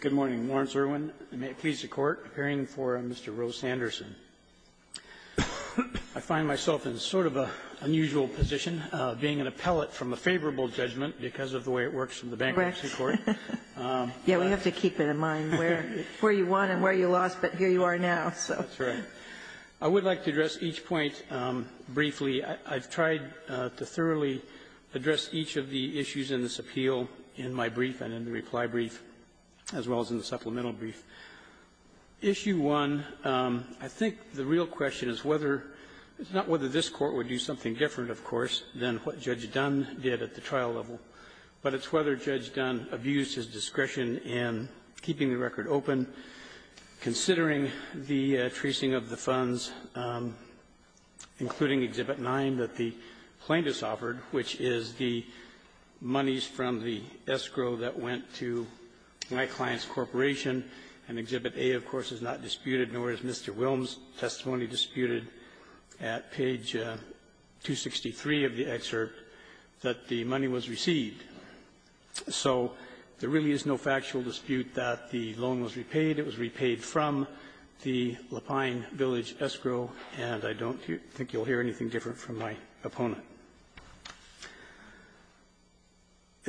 Good morning. Lawrence Irwin. I'm pleased to court, appearing for Mr. Rowe Sanderson. I find myself in sort of an unusual position, being an appellate from a favorable judgment because of the way it works in the bankruptcy court. Correct. Yeah, we have to keep in mind where you won and where you lost, but here you are now. That's right. I would like to address each point briefly. I've tried to thoroughly address each of the issues in this appeal in my brief and in the reply brief, as well as in the supplemental brief. Issue 1, I think the real question is whether — it's not whether this Court would do something different, of course, than what Judge Dunn did at the trial level, but it's whether Judge Dunn abused his discretion in keeping the record open, considering the tracing of the funds, including Exhibit 9, that the plaintiffs offered, which is the monies from the escrow that went to my client's corporation. And Exhibit A, of course, is not disputed, nor is Mr. Wilms' testimony disputed at page 263 of the excerpt that the money was received. So there really is no factual dispute that the loan was repaid. It was repaid from the Lapine Village escrow, and I don't think you'll hear anything different from my opponent.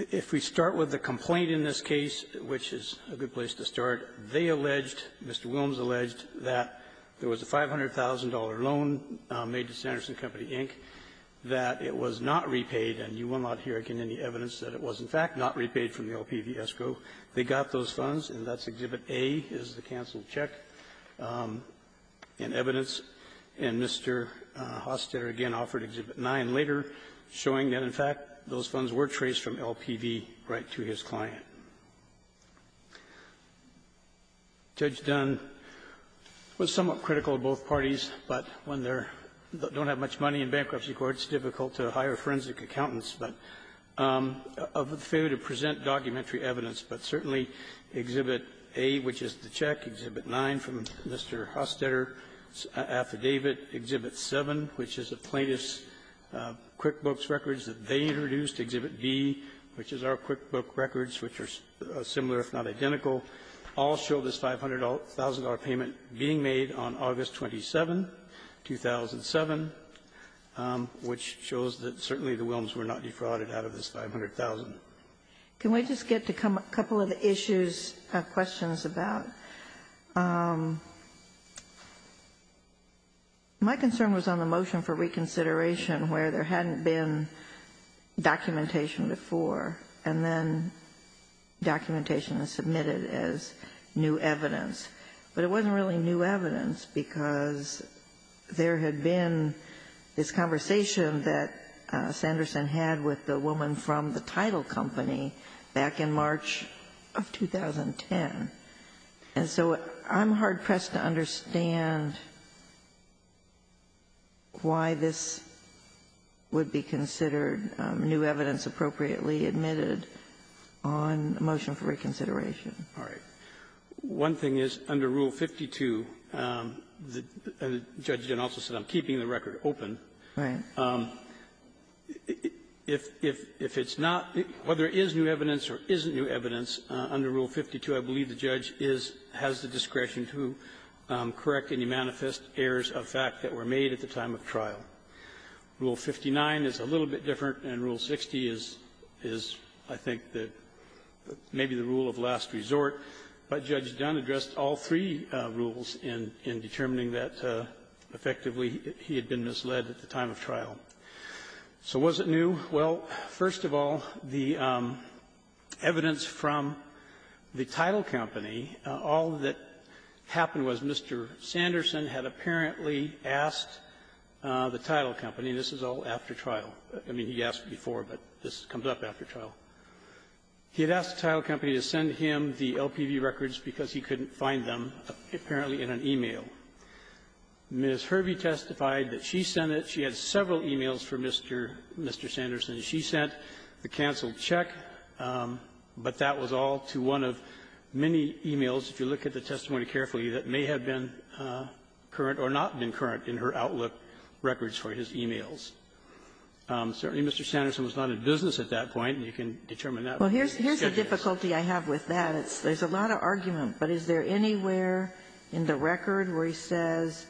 If we start with the complaint in this case, which is a good place to start, they alleged, Mr. Wilms alleged, that there was a $500,000 loan made to Sanderson Company, Inc., that it was not repaid, and you will not hear again any evidence that it was, in fact, not repaid from the LPV escrow. They got those funds, and that's Exhibit A is the canceled check in evidence. And Mr. Hostetter again offered Exhibit 9 later, showing that, in fact, those funds were traced from LPV right to his client. Judge Dunn was somewhat critical of both parties, but when they're don't have much money in bankruptcy court, it's difficult to hire forensic accountants, but of the failure to present documentary evidence. But certainly, Exhibit A, which is the check, Exhibit 9, from Mr. Hostetter affidavit, Exhibit 7, which is the plaintiff's QuickBooks records that they introduced, Exhibit B, which is our QuickBooks records, which are similar, if not identical, all show this $500,000 payment being made on August 27, 2007, which shows that certainly the Wilms were not defrauded out of this $500,000. Can we just get to a couple of the issues, questions about? My concern was on the motion for reconsideration where there hadn't been documentation before, and then documentation is submitted as new evidence. But it wasn't really new evidence because there had been this conversation that Sanderson had with the woman from the title company back in March of 2010. And so I'm hard-pressed to understand why this would be considered new evidence appropriately admitted on the motion for reconsideration. All right. One thing is, under Rule 52, Judge Dunn also said, I'm keeping the record open. Right. If it's not, whether it is new evidence or isn't new evidence, under Rule 52, I believe the judge is, has the discretion to correct any manifest errors of fact that were made at the time of trial. Rule 59 is a little bit different, and Rule 60 is, I think, maybe the rule of last resort, but Judge Dunn addressed all three rules in determining that, effectively, he had been misled at the time of trial. So was it new? Well, first of all, the evidence from the title company, all that happened was Mr. Sanderson had apparently asked the title company, and this is all after trial. I mean, he asked before, but this comes up after trial. He had asked the title company to send him the LPV records because he couldn't find them, apparently, in an e-mail. Ms. Hervey testified that she sent it. She had several e-mails for Mr. Sanderson. She sent the canceled check, but that was all to one of many e-mails, if you look at the testimony carefully, that may have been current or not been current in her Outlook records for his e-mails. Certainly, Mr. Sanderson was not in business at that point, and you can determine that. Well, here's the difficulty I have with that. There's a lot of argument, but is there anywhere in the record where he says,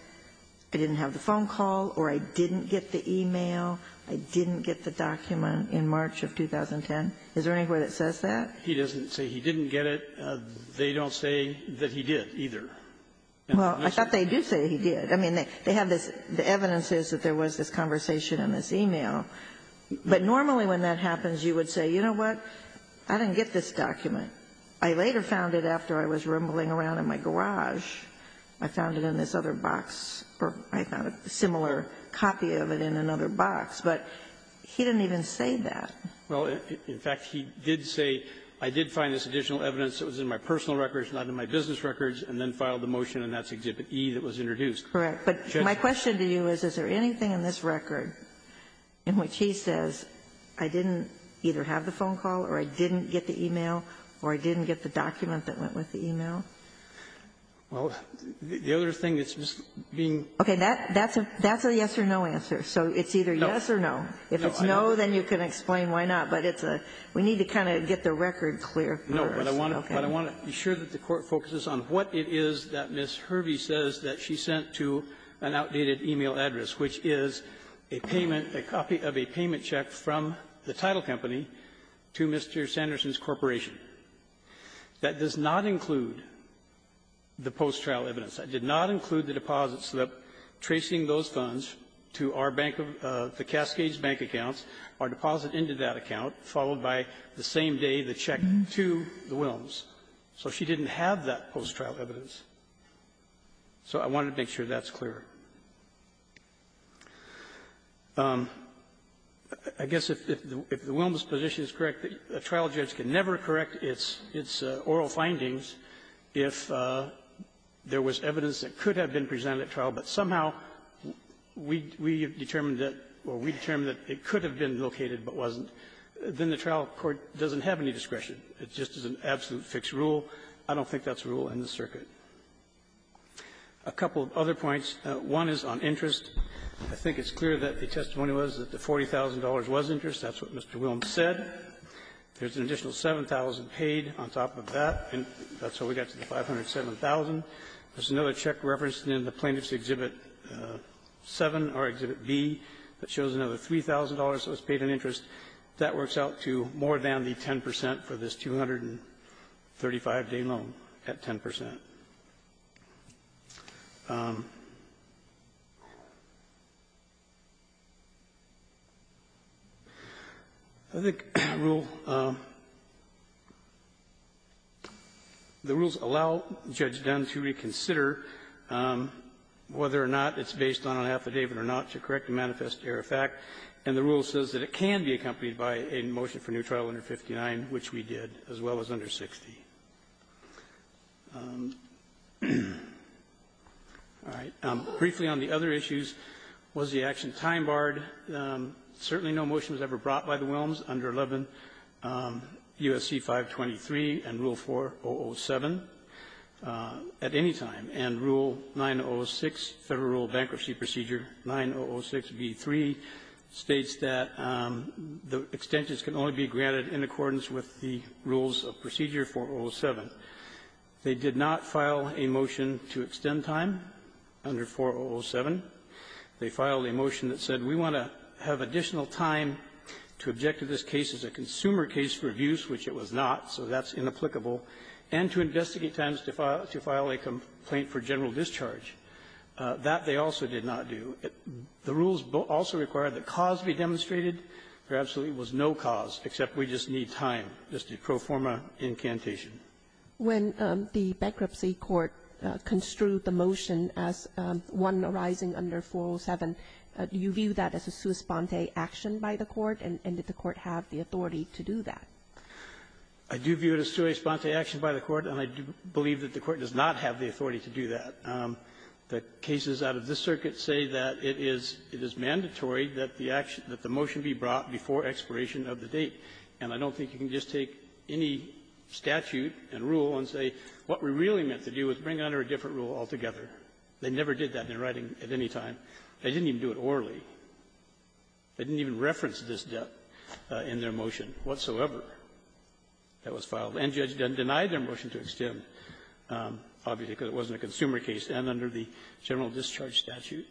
I didn't have the phone call or I didn't get the e-mail, I didn't get the document in March of 2010? Is there anywhere that says that? He doesn't say he didn't get it. They don't say that he did, either. Well, I thought they did say he did. I mean, they have this the evidence is that there was this conversation in this e-mail. But normally when that happens, you would say, you know what, I didn't get this document. I later found it after I was rumbling around in my garage. I found it in this other box, or I found a similar copy of it in another box. But he didn't even say that. Well, in fact, he did say, I did find this additional evidence that was in my personal records, not in my business records, and then filed the motion, and that's Exhibit E that was introduced. Correct. But my question to you is, is there anything in this record in which he says, I didn't either have the phone call or I didn't get the e-mail or I didn't get the document that went with the e-mail? Well, the other thing that's just being ---- Okay. That's a yes or no answer. So it's either yes or no. If it's no, then you can explain why not. But it's a we need to kind of get the record clear. No. But I want to be sure that the Court focuses on what it is that Ms. Hervey says that she sent to an outdated e-mail address, which is a payment, a copy of a payment check from the title company to Mr. Sanderson's corporation. That does not include the post-trial evidence. That did not include the deposit slip tracing those funds to our bank of the Cascades bank accounts, our deposit into that account, followed by the same day the check to the Wilms. So she didn't have that post-trial evidence. So I want to make sure that's clear. I guess if the Wilms position is correct, a trial judge can never correct its oral findings if there was evidence that could have been presented at trial, but somehow we determined that or we determined that it could have been located but wasn't. Then the trial court doesn't have any discretion. It just is an absolute fixed rule. I don't think that's a rule in the circuit. A couple of other points. One is on interest. I think it's clear that the testimony was that the $40,000 was interest. That's what Mr. Wilms said. There's an additional $7,000 paid on top of that, and that's how we got to the $507,000. There's another check referenced in the Plaintiff's Exhibit 7 or Exhibit B that shows another $3,000 that was paid in interest. That works out to more than the 10 percent for this 235-day loan at 10 percent. I think the rule the rules allow Judge Dunn to reconsider whether or not it's based on an affidavit or not to correct a manifest error of fact, and the rule says that it can be accompanied by a motion for new trial under 59, which we did, as well as under 60. All right. Briefly, on the other issues, was the action time-barred? Certainly no motion was ever brought by the Wilms under 11 U.S.C. 523 and Rule 4007 at any time. And Rule 906, Federal Rule Bankruptcy Procedure 9006b3, states that the extensions can only be granted in accordance with the rules of Procedure 4007. They did not file a motion to extend time under 4007. They filed a motion that said we want to have additional time to object to this case as a consumer case for abuse, which it was not, so that's inapplicable, and to investigate times to file a complaint for general discharge. That they also did not do. The rules also require that cause be demonstrated. Perhaps there was no cause, except we just need time, just a pro forma incantation. When the bankruptcy court construed the motion as one arising under 407, do you view that as a sua sponte action by the court, and did the court have the authority to do that? I do view it as a sua sponte action by the court, and I do believe that the court does not have the authority to do that. The cases out of this circuit say that it is mandatory that the action, that the motion be brought before expiration of the date. And I don't think you can just take any statute and rule and say, what we really meant to do was bring under a different rule altogether. They never did that in writing at any time. They didn't even do it orally. They didn't even reference this debt in their motion whatsoever that was filed. And Judge Dunn denied their motion to extend, obviously, because it wasn't a consumer case, and under the general discharge statute.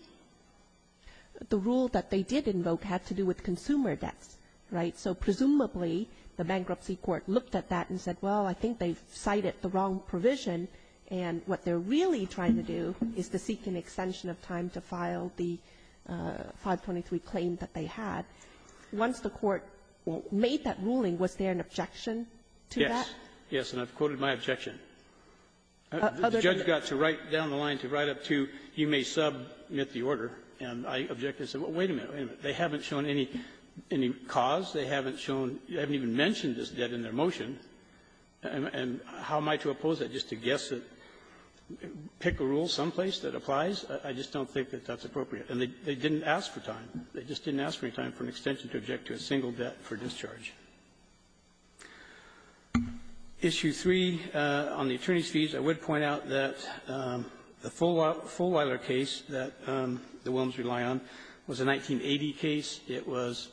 The rule that they did invoke had to do with consumer debts, right? So presumably, the bankruptcy court looked at that and said, well, I think they've cited the wrong provision, and what they're really trying to do is to seek an extension of time to file the 523 claim that they had. Once the court made that ruling, was there an objection to that? Yes. Yes, and I've quoted my objection. The judge got to write down the line to write up to, you may submit the order. And I objected and said, well, wait a minute, wait a minute. They haven't shown any cause. They haven't shown you haven't even mentioned this debt in their motion. And how am I to oppose that, just to guess it, pick a rule someplace that applies? I just don't think that that's appropriate. And they didn't ask for time. They just didn't ask for any time for an extension to object to a single debt for discharge. Issue 3 on the attorney's fees, I would point out that the Fulweiler case that the Williams relied on was a 1980 case. It was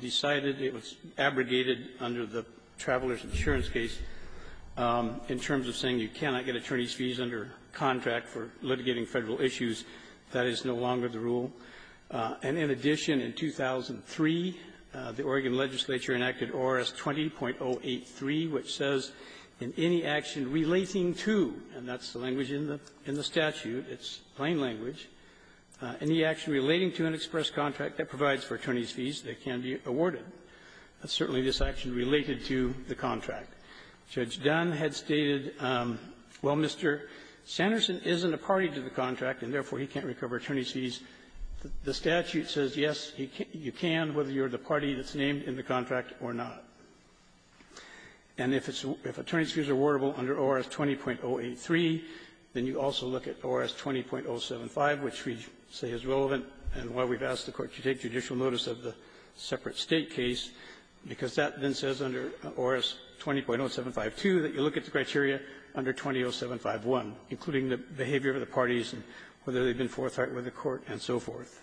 decided, it was abrogated under the Traveler's Insurance case in terms of saying you cannot get attorney's fees under contract for litigating Federal issues. That is no longer the rule. And in addition, in 2003, the Oregon legislature enacted ORS 20.083, which says, in any action relating to, and that's the language in the statute, it's plain language, any action relating to an express contract that provides for attorney's fees that can be awarded. That's certainly this action related to the contract. Judge Dunn had stated, well, Mr. Sanderson isn't a party to the contract, and therefore he can't recover attorney's fees. The statute says, yes, he can, you can, whether you're the party that's named in the contract or not. And if attorney's fees are awardable under ORS 20.083, then you also look at ORS 20.075, which we say is relevant, and why we've asked the Court to take judicial notice of the separate State case, because that then says under ORS 20.0752 that you look at the criteria under 20.0751, including the behavior of the parties and whether they've been forthright with the Court, and so forth.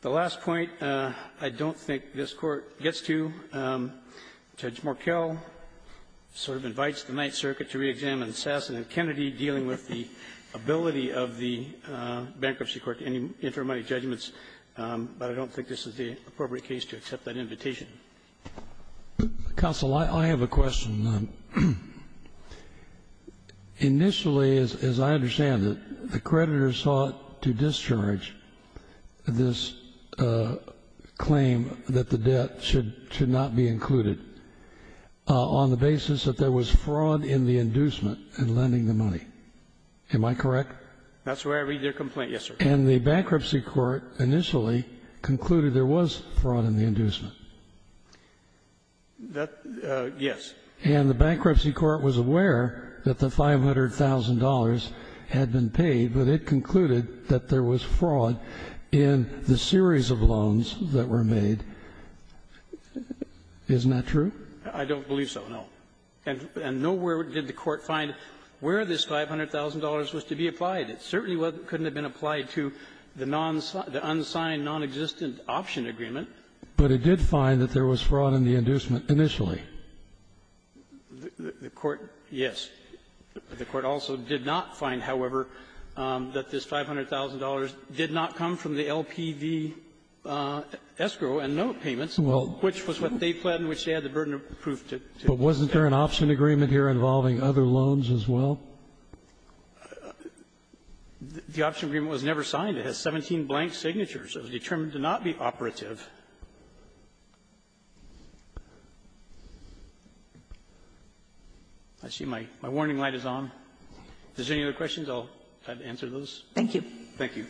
The last point I don't think this Court gets to, Judge Markell sort of invites the Ninth Circuit to re-examine Sasson and Kennedy dealing with the ability of the Bankruptcy Court to intermediate judgments, but I don't think this is the appropriate case to accept that invitation. Kennedy, counsel, I have a question. Initially, as I understand it, the creditor sought to discharge this claim that the debt should not be included on the basis that there was fraud in the inducement in lending the money. Am I correct? That's where I read your complaint, yes, sir. And the Bankruptcy Court initially concluded there was fraud in the inducement? That yes. And the Bankruptcy Court was aware that the $500,000 had been paid, but it concluded that there was fraud in the series of loans that were made. Isn't that true? I don't believe so, no. And nowhere did the Court find where this $500,000 was to be applied. It certainly couldn't have been applied to the unsigned, nonexistent option agreement. But it did find that there was fraud in the inducement initially? The Court, yes. The Court also did not find, however, that this $500,000 did not come from the LPV escrow and note payments, which was what they planned, which they had the burden of proof to do. But wasn't there an option agreement here involving other loans as well? The option agreement was never signed. It has 17 blank signatures. It was determined to not be operative. I see my warning light is on. If there's any other questions, I'll answer those. Thank you. Thank you.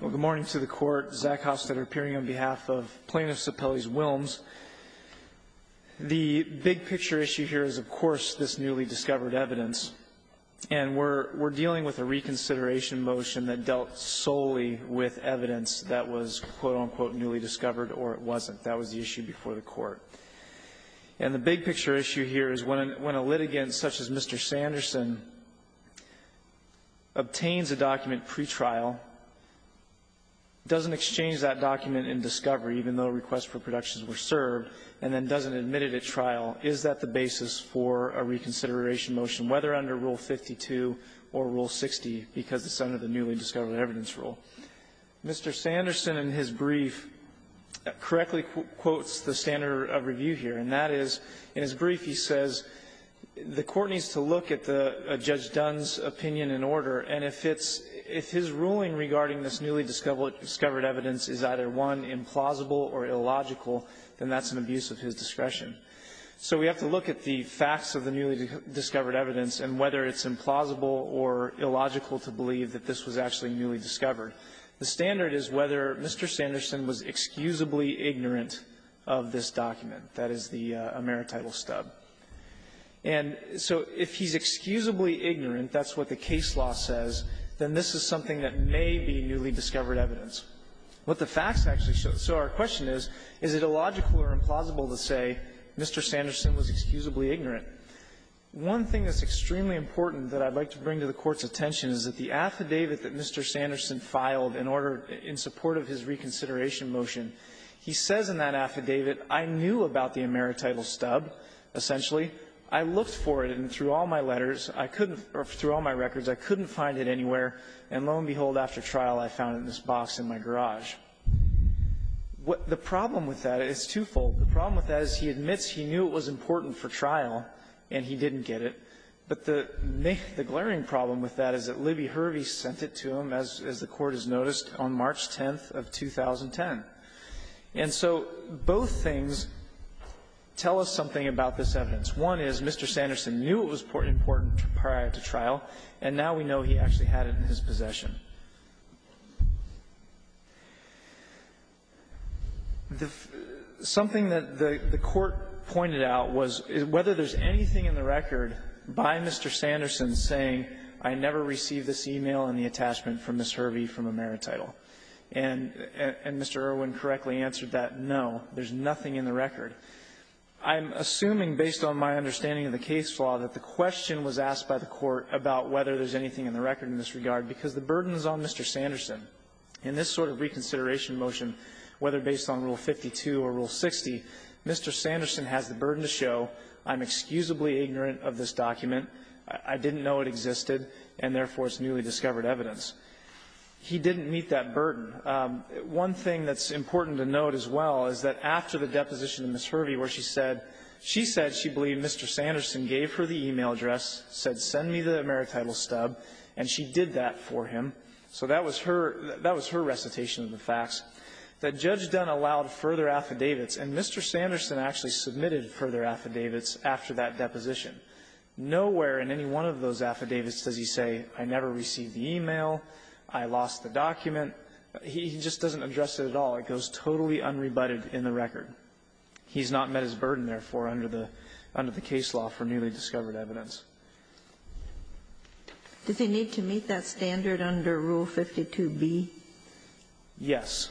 Well, good morning to the Court. Zach Hostetter, appearing on behalf of Plaintiff's Appellees Wilms. The big picture issue here is, of course, this newly discovered evidence. And we're dealing with a reconsideration motion that dealt solely with evidence that was, quote, unquote, newly discovered, or it wasn't. That was the issue before the Court. And the big picture issue here is when a litigant such as Mr. Sanderson obtains a document pretrial, doesn't exchange that document in discovery, even though requests for productions were served, and then doesn't admit it at trial, is that the basis for a reconsideration motion, whether under Rule 52 or Rule 60, because it's under the newly discovered evidence rule? Mr. Sanderson, in his brief, correctly quotes the standard of review here, and that is, in his brief, he says, the Court needs to look at Judge Dunn's opinion in order, and if it's his ruling regarding this newly discovered evidence is either, one, implausible or illogical, then that's an abuse of his discretion. So we have to look at the facts of the newly discovered evidence and whether it's implausible or illogical to believe that this was actually newly discovered. The standard is whether Mr. Sanderson was excusably ignorant of this document. That is the emerit title stub. And so if he's excusably ignorant, that's what the case law says, then this is something that may be newly discovered evidence. What the facts actually show. So our question is, is it illogical or implausible to say Mr. Sanderson was excusably ignorant? One thing that's extremely important that I'd like to bring to the Court's attention is that the affidavit that Mr. Sanderson filed in order, in support of his reconsideration motion, he says in that affidavit, I knew about the emerit title stub, essentially. I looked for it, and through all my letters, I couldn't or through all my records, I couldn't find it anywhere. And lo and behold, after trial, I found it in this box in my garage. The problem with that is twofold. The problem with that is he admits he knew it was important for trial, and he didn't get it. But the glaring problem with that is that Libby Hervey sent it to him, as the Court has noticed, on March 10th of 2010. And so both things tell us something about this evidence. One is Mr. Sanderson knew it was important prior to trial, and now we know he actually had it in his possession. Something that the Court pointed out was, whether there's anything in the record in this regard, because the burden is on Mr. Sanderson. In this sort of reconsideration motion, whether based on Rule 52 or Rule 60, Mr. Sanderson is excusably ignorant of this document. I didn't know it existed, and therefore, it's newly discovered evidence. He didn't meet that burden. One thing that's important to note as well is that after the deposition of Ms. Hervey, where she said she said she believed Mr. Sanderson gave her the e-mail address, said, send me the maritimal stub, and she did that for him. So that was her recitation of the facts. That Judge Dunn allowed further affidavits, and Mr. Sanderson actually submitted further affidavits after that deposition. Nowhere in any one of those affidavits does he say, I never received the e-mail, I lost the document. He just doesn't address it at all. It goes totally unrebutted in the record. He's not met his burden, therefore, under the case law for newly discovered evidence. Ginsburg. Does he need to meet that standard under Rule 52b? Yes.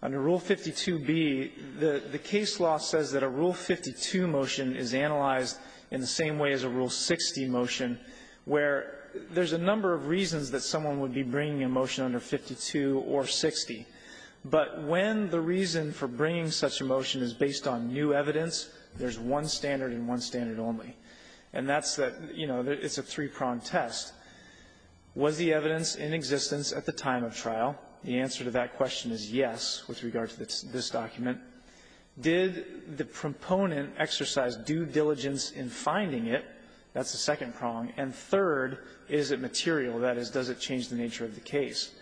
Under Rule 52b, the case law says that a Rule 52 motion is analyzed in the same way as a Rule 60 motion, where there's a number of reasons that someone would be bringing a motion under 52 or 60. But when the reason for bringing such a motion is based on new evidence, there's one standard and one standard only. And that's that, you know, it's a three-pronged test. Was the evidence in existence at the time of trial? The answer to that question is yes, with regard to this document. Did the proponent exercise due diligence in finding it? That's the second prong. And third, is it material? That is, does it change the nature of the case?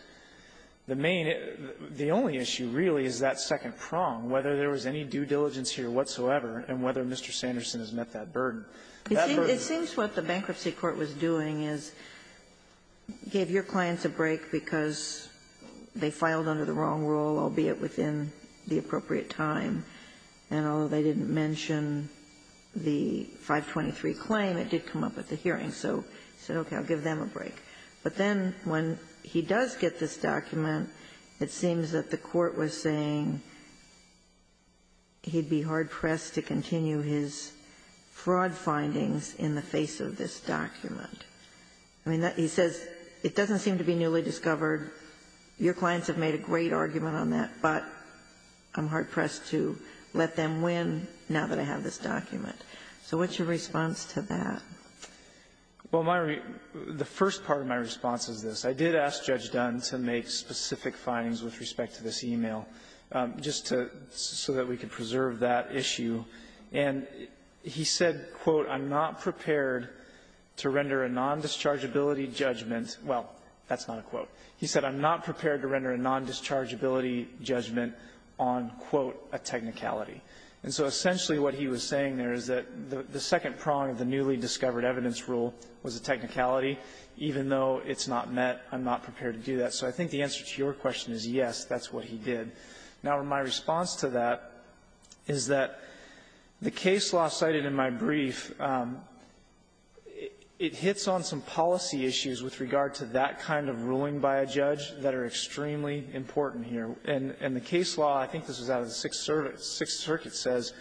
The main issue, the only issue really is that second prong, whether there was any due diligence here whatsoever and whether Mr. Sanderson has met that burden. It seems what the bankruptcy court was doing is gave your clients a break because they filed under the wrong rule, albeit within the appropriate time. And although they didn't mention the 523 claim, it did come up at the hearing. So he said, okay, I'll give them a break. But then when he does get this document, it seems that the court was saying he'd be hard-pressed to continue his fraud findings in the face of this document. I mean, he says it doesn't seem to be newly discovered. Your clients have made a great argument on that, but I'm hard-pressed to let them win now that I have this document. So what's your response to that? Well, my response to that, the first part of my response is this. I did ask Judge Dunn to make specific findings with respect to this e-mail just to so that we could preserve that issue. And he said, quote, I'm not prepared to render a non-dischargeability judgment. Well, that's not a quote. He said I'm not prepared to render a non-dischargeability judgment on, quote, a technicality. And so essentially what he was saying there is that the second prong of the newly discovered evidence rule was a technicality. Even though it's not met, I'm not prepared to do that. So I think the answer to your question is yes, that's what he did. Now, my response to that is that the case law cited in my brief, it hits on some policy issues with regard to that kind of ruling by a judge that are extremely important here. And the case law, I think this was out of the Sixth Circuit, says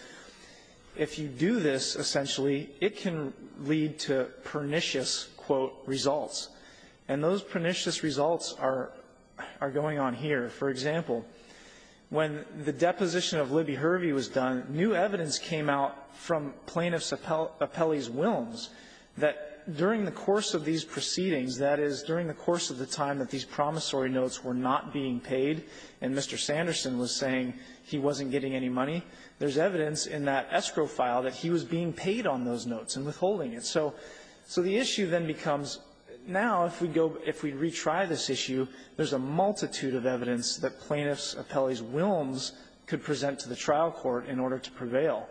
if you do this, essentially, it can lead to pernicious, quote, results. And those pernicious results are going on here. For example, when the deposition of Libby Hervey was done, new evidence came out from plaintiffs' appellees' wills that during the course of these proceedings, that is, during the course of the time that these promissory notes were not being paid, and Mr. Sanderson was saying he wasn't getting any money, there's evidence in that escrow file that he was being paid on those notes and withholding it. So the issue then becomes, now, if we go, if we retry this issue, there's a multitude of evidence that plaintiffs' appellees' wills could present to the trial court in order to prevail.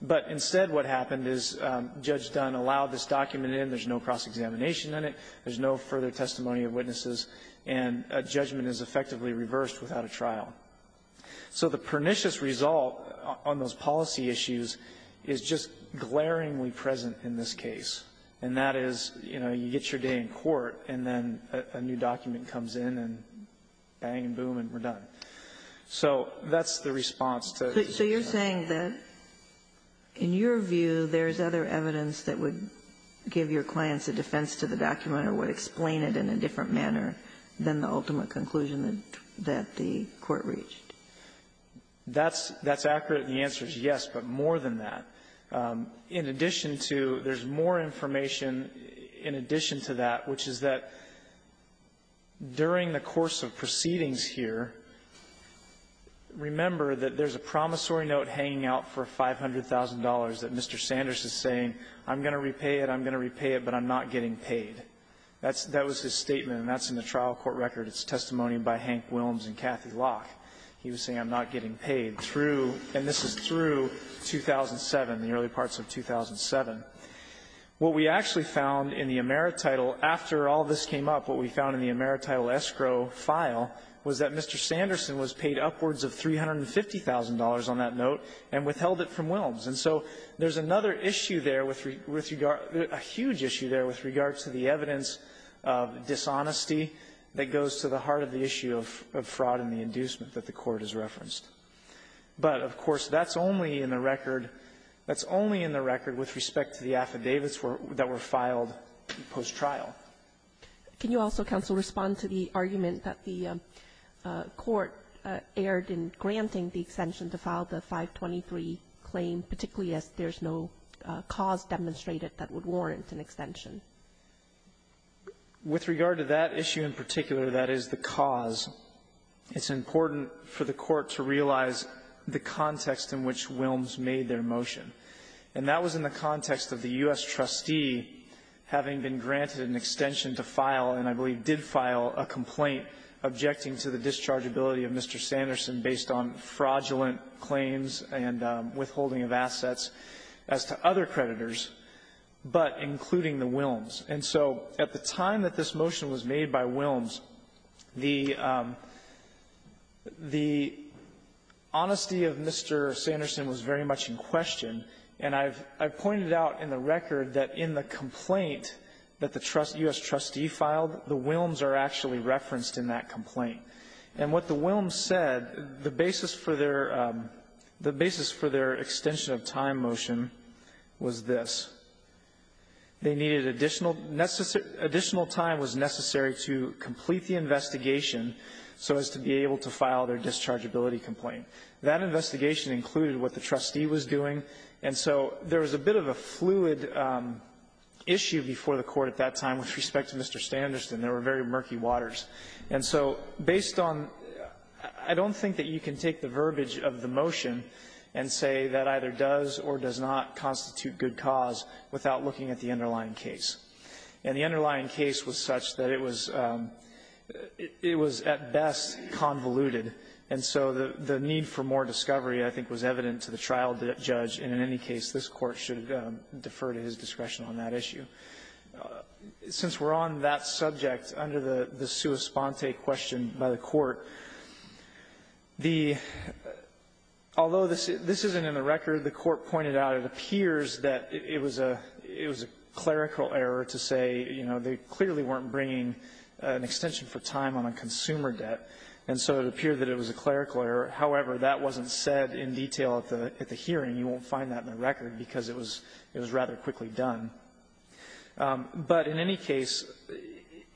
But instead, what happened is Judge Dunn allowed this document in. There's no cross-examination in it. There's no further testimony of witnesses, and a judgment is effectively reversed without a trial. So the pernicious result on those policy issues is just glaringly present in this case, and that is, you know, you get your day in court, and then a new document comes in, and bang, boom, and we're done. So that's the response to the judgment. So you're saying that, in your view, there's other evidence that would give your clients a defense to the document or would explain it in a different manner than the ultimate conclusion that the court reached? That's accurate, and the answer is yes, but more than that. In addition to there's more information in addition to that, which is that during the course of proceedings here, remember that there's a promissory note hanging out for $500,000 that Mr. Sanders is saying, I'm going to repay it, I'm going to repay it, but I'm not getting paid. That was his statement, and that's in the trial court record. It's testimony by Hank Wilms and Kathy Locke. He was saying I'm not getting paid through, and this is through 2007, the early parts of 2007. What we actually found in the emerit title, after all this came up, what we found in the emerit title escrow file was that Mr. Sanderson was paid upwards of $350,000 on that note and withheld it from Wilms. And so there's another issue there with regard to a huge issue there with regard to the evidence of dishonesty that goes to the heart of the issue of fraud and the inducement that the Court has referenced. But, of course, that's only in the record with respect to the affidavits that were filed post-trial. Can you also, counsel, respond to the argument that the Court erred in granting the extension to file the 523 claim, particularly as there's no cause demonstrated that would warrant an extension? With regard to that issue in particular, that is the cause. It's important for the Court to realize the context in which Wilms made their motion. And that was in the context of the U.S. trustee having been granted an extension to file, and I believe did file, a complaint objecting to the dischargeability of Mr. Sanderson based on fraudulent claims and withholding of assets as to other creditors, but including the Wilms. And so, at the time that this motion was made by Wilms, the honesty of Mr. Sanderson was very much in question, and I've pointed out in the record that in the complaint that the U.S. trustee filed, the Wilms are actually referenced in that complaint. And what the Wilms said, the basis for their extension of time motion was this. They needed additional time was necessary to complete the investigation so as to be able to file their dischargeability complaint. That investigation included what the trustee was doing, and so there was a bit of a fluid issue before the Court at that time with respect to Mr. Sanderson. There were very murky waters. And so, based on the – I don't think that you can take the verbiage of the motion and say that either does or does not constitute good cause without looking at the underlying case. And the underlying case was such that it was at best convoluted, and so the need for more discovery, I think, was evident to the trial judge, and in any case, this Court should defer to his discretion on that issue. Since we're on that subject, under the sua sponte question by the Court, the – although this isn't in the record, the Court pointed out it appears that it was a clerical error to say, you know, they clearly weren't bringing an extension for time on a consumer debt, and so it appeared that it was a clerical error. However, that wasn't said in detail at the hearing. You won't find that in the record because it was rather quickly done. But in any case,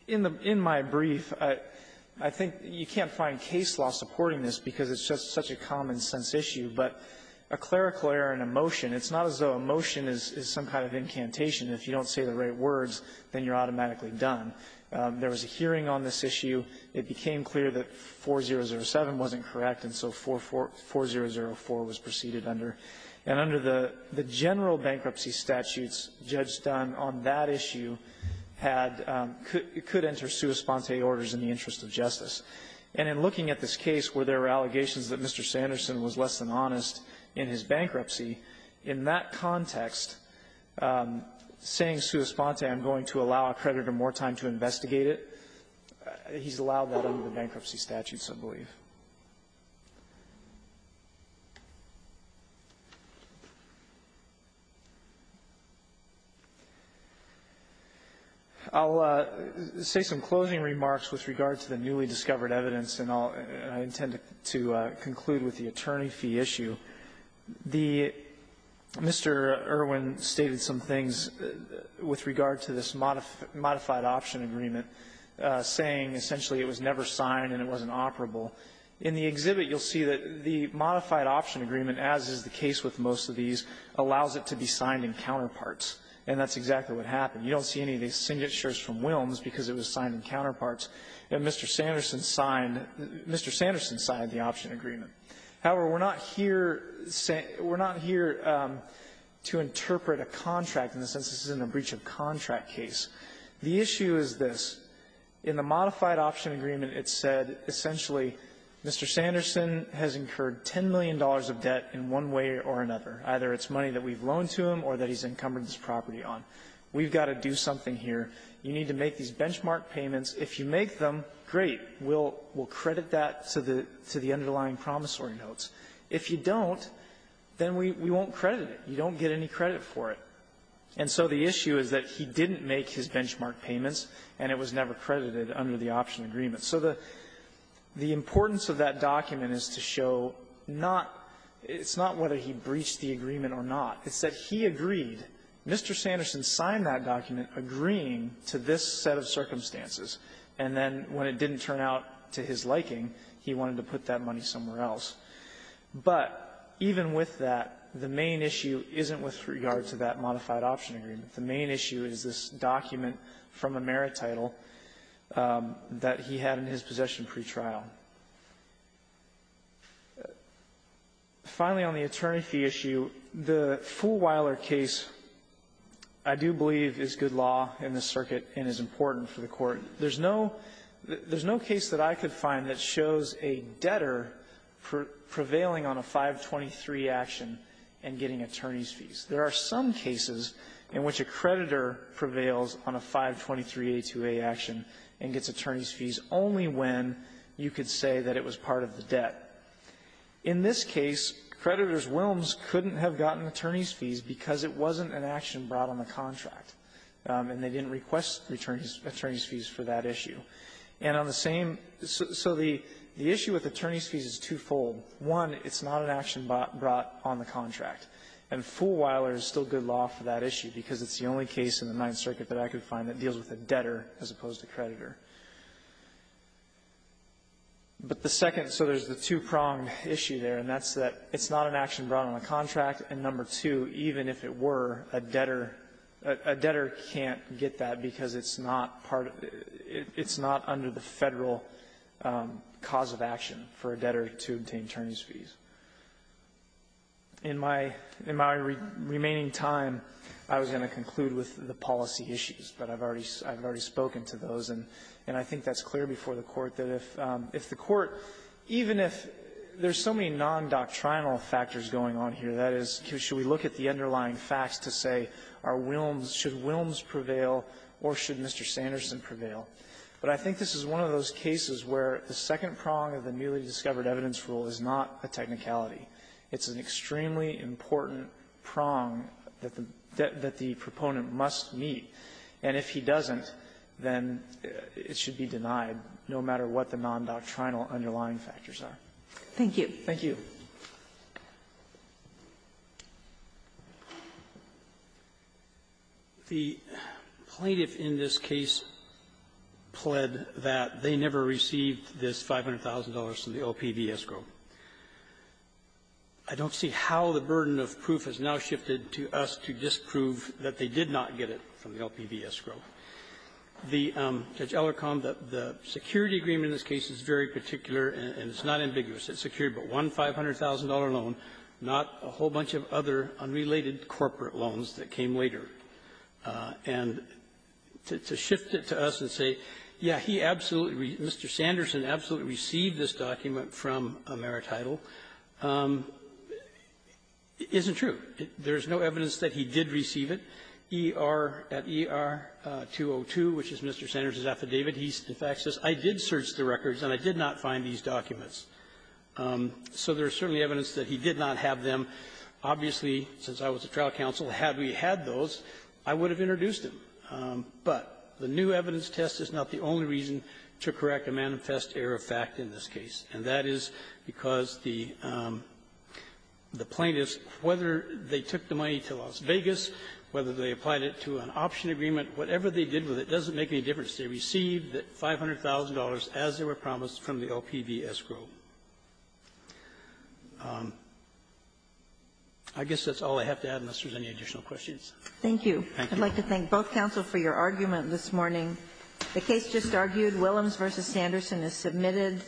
in the – in my brief, I think you can't find case law supporting this because it's just such a common-sense issue, but a clerical error in a motion, it's not as though a motion is some kind of incantation. If you don't say the right words, then you're automatically done. There was a hearing on this issue. It became clear that 4007 wasn't correct, and so 4004 was proceeded under. And under the general bankruptcy statutes, Judge Dunn on that issue had – could enter sua sponte orders in the interest of justice. And in looking at this case where there were allegations that Mr. Sanderson was less than honest in his bankruptcy, in that context, saying sua sponte, I'm going to allow a creditor more time to investigate it, he's allowed that under the bankruptcy statute, I believe. I'll say some closing remarks with regard to the newly-discovered evidence. And I'll – I intend to conclude with the attorney fee issue. The – Mr. Irwin stated some things with regard to this modified option agreement, saying essentially it was never signed and it wasn't operable. In the exhibit, you'll see that the modified option agreement, as is the case with most of these, allows it to be signed in counterparts. And that's exactly what happened. You don't see any of these signatures from Wilms because it was signed in counterparts. And Mr. Sanderson signed – Mr. Sanderson signed the option agreement. However, we're not here – we're not here to interpret a contract in the sense this isn't a breach of contract case. The issue is this. In the modified option agreement, it said essentially Mr. Sanderson has incurred $10 million of debt in one way or another, either it's money that we've loaned to him or that he's encumbered this property on. We've got to do something here. You need to make these benchmark payments. If you make them, great. We'll – we'll credit that to the – to the underlying promissory notes. If you don't, then we – we won't credit it. You don't get any credit for it. And so the issue is that he didn't make his benchmark payments, and it was never credited under the option agreement. So the – the importance of that document is to show not – it's not whether he breached the agreement or not. It's that he agreed. Mr. Sanderson signed that document agreeing to this set of circumstances. And then when it didn't turn out to his liking, he wanted to put that money somewhere else. But even with that, the main issue isn't with regard to that modified option agreement. The main issue is this document from a merit title that he had in his possession pretrial. Finally, on the attorney fee issue, the Fulweiler case, I do believe, is good law in this circuit and is important for the Court. There's no – there's no case that I could find that shows a debtor prevailing on a 523 action and getting attorney's fees. There are some cases in which a creditor prevails on a 523a2a action and gets attorney's fees only when you could say that it was part of the debt. In this case, creditors' whelms couldn't have gotten attorney's fees because it wasn't an action brought on the contract, and they didn't request attorney's fees for that issue. And on the same – so the issue with attorney's fees is twofold. One, it's not an action brought on the contract. And Fulweiler is still good law for that issue because it's the only case in the Ninth Circuit that I could find that deals with a debtor as opposed to creditor. But the second – so there's the two-pronged issue there, and that's that it's not an action brought on a contract, and number two, even if it were, a debtor – a debtor can't get that because it's not part – it's not under the Federal cause of action for a debtor to obtain attorney's fees. In my – in my remaining time, I was going to conclude with the policy issues, but I've already – I've already spoken to those, and I think that's clear before the Court that if the Court – even if there's so many nondoctrinal factors going on here, that is, should we look at the underlying facts to say, are Wilms – should Wilms prevail or should Mr. Sanderson prevail? But I think this is one of those cases where the second prong of the newly-discovered evidence rule is not a technicality. It's an extremely important prong that the – that the proponent must meet, and if he doesn't, then it should be denied, no matter what the nondoctrinal underlying factors are. Thank you. Thank you. The plaintiff in this case pled that they never received this $500,000 from the LPV escrow. I don't see how the burden of proof has now shifted to us to disprove that they did not get it from the LPV escrow. The – Judge Ellicombe, the security agreement in this case is very particular, and it's not ambiguous. It's secured but one $500,000 loan, not a whole bunch of other unrelated corporate loans that came later. And to shift it to us and say, yes, he absolutely – Mr. Sanderson absolutely received this document from Ameritidal, isn't true. There's no evidence that he did receive it. ER – at ER-202, which is Mr. Sanderson's affidavit, he, in fact, says, I did search the records, and I did not find these documents. So there's certainly evidence that he did not have them. Obviously, since I was a trial counsel, had we had those, I would have introduced them. But the new evidence test is not the only reason to correct a manifest error of fact in this case, and that is because the plaintiffs, whether they took the money to Las Vegas, whether they applied it to an option agreement, whatever they did with it doesn't make any difference. They received that $500,000 as they were promised from the LPV escrow. I guess that's all I have to add, unless there's any additional questions. Thank you. Thank you. I'd like to thank both counsel for your argument this morning. The case just argued, Willems v. Sanderson is submitted.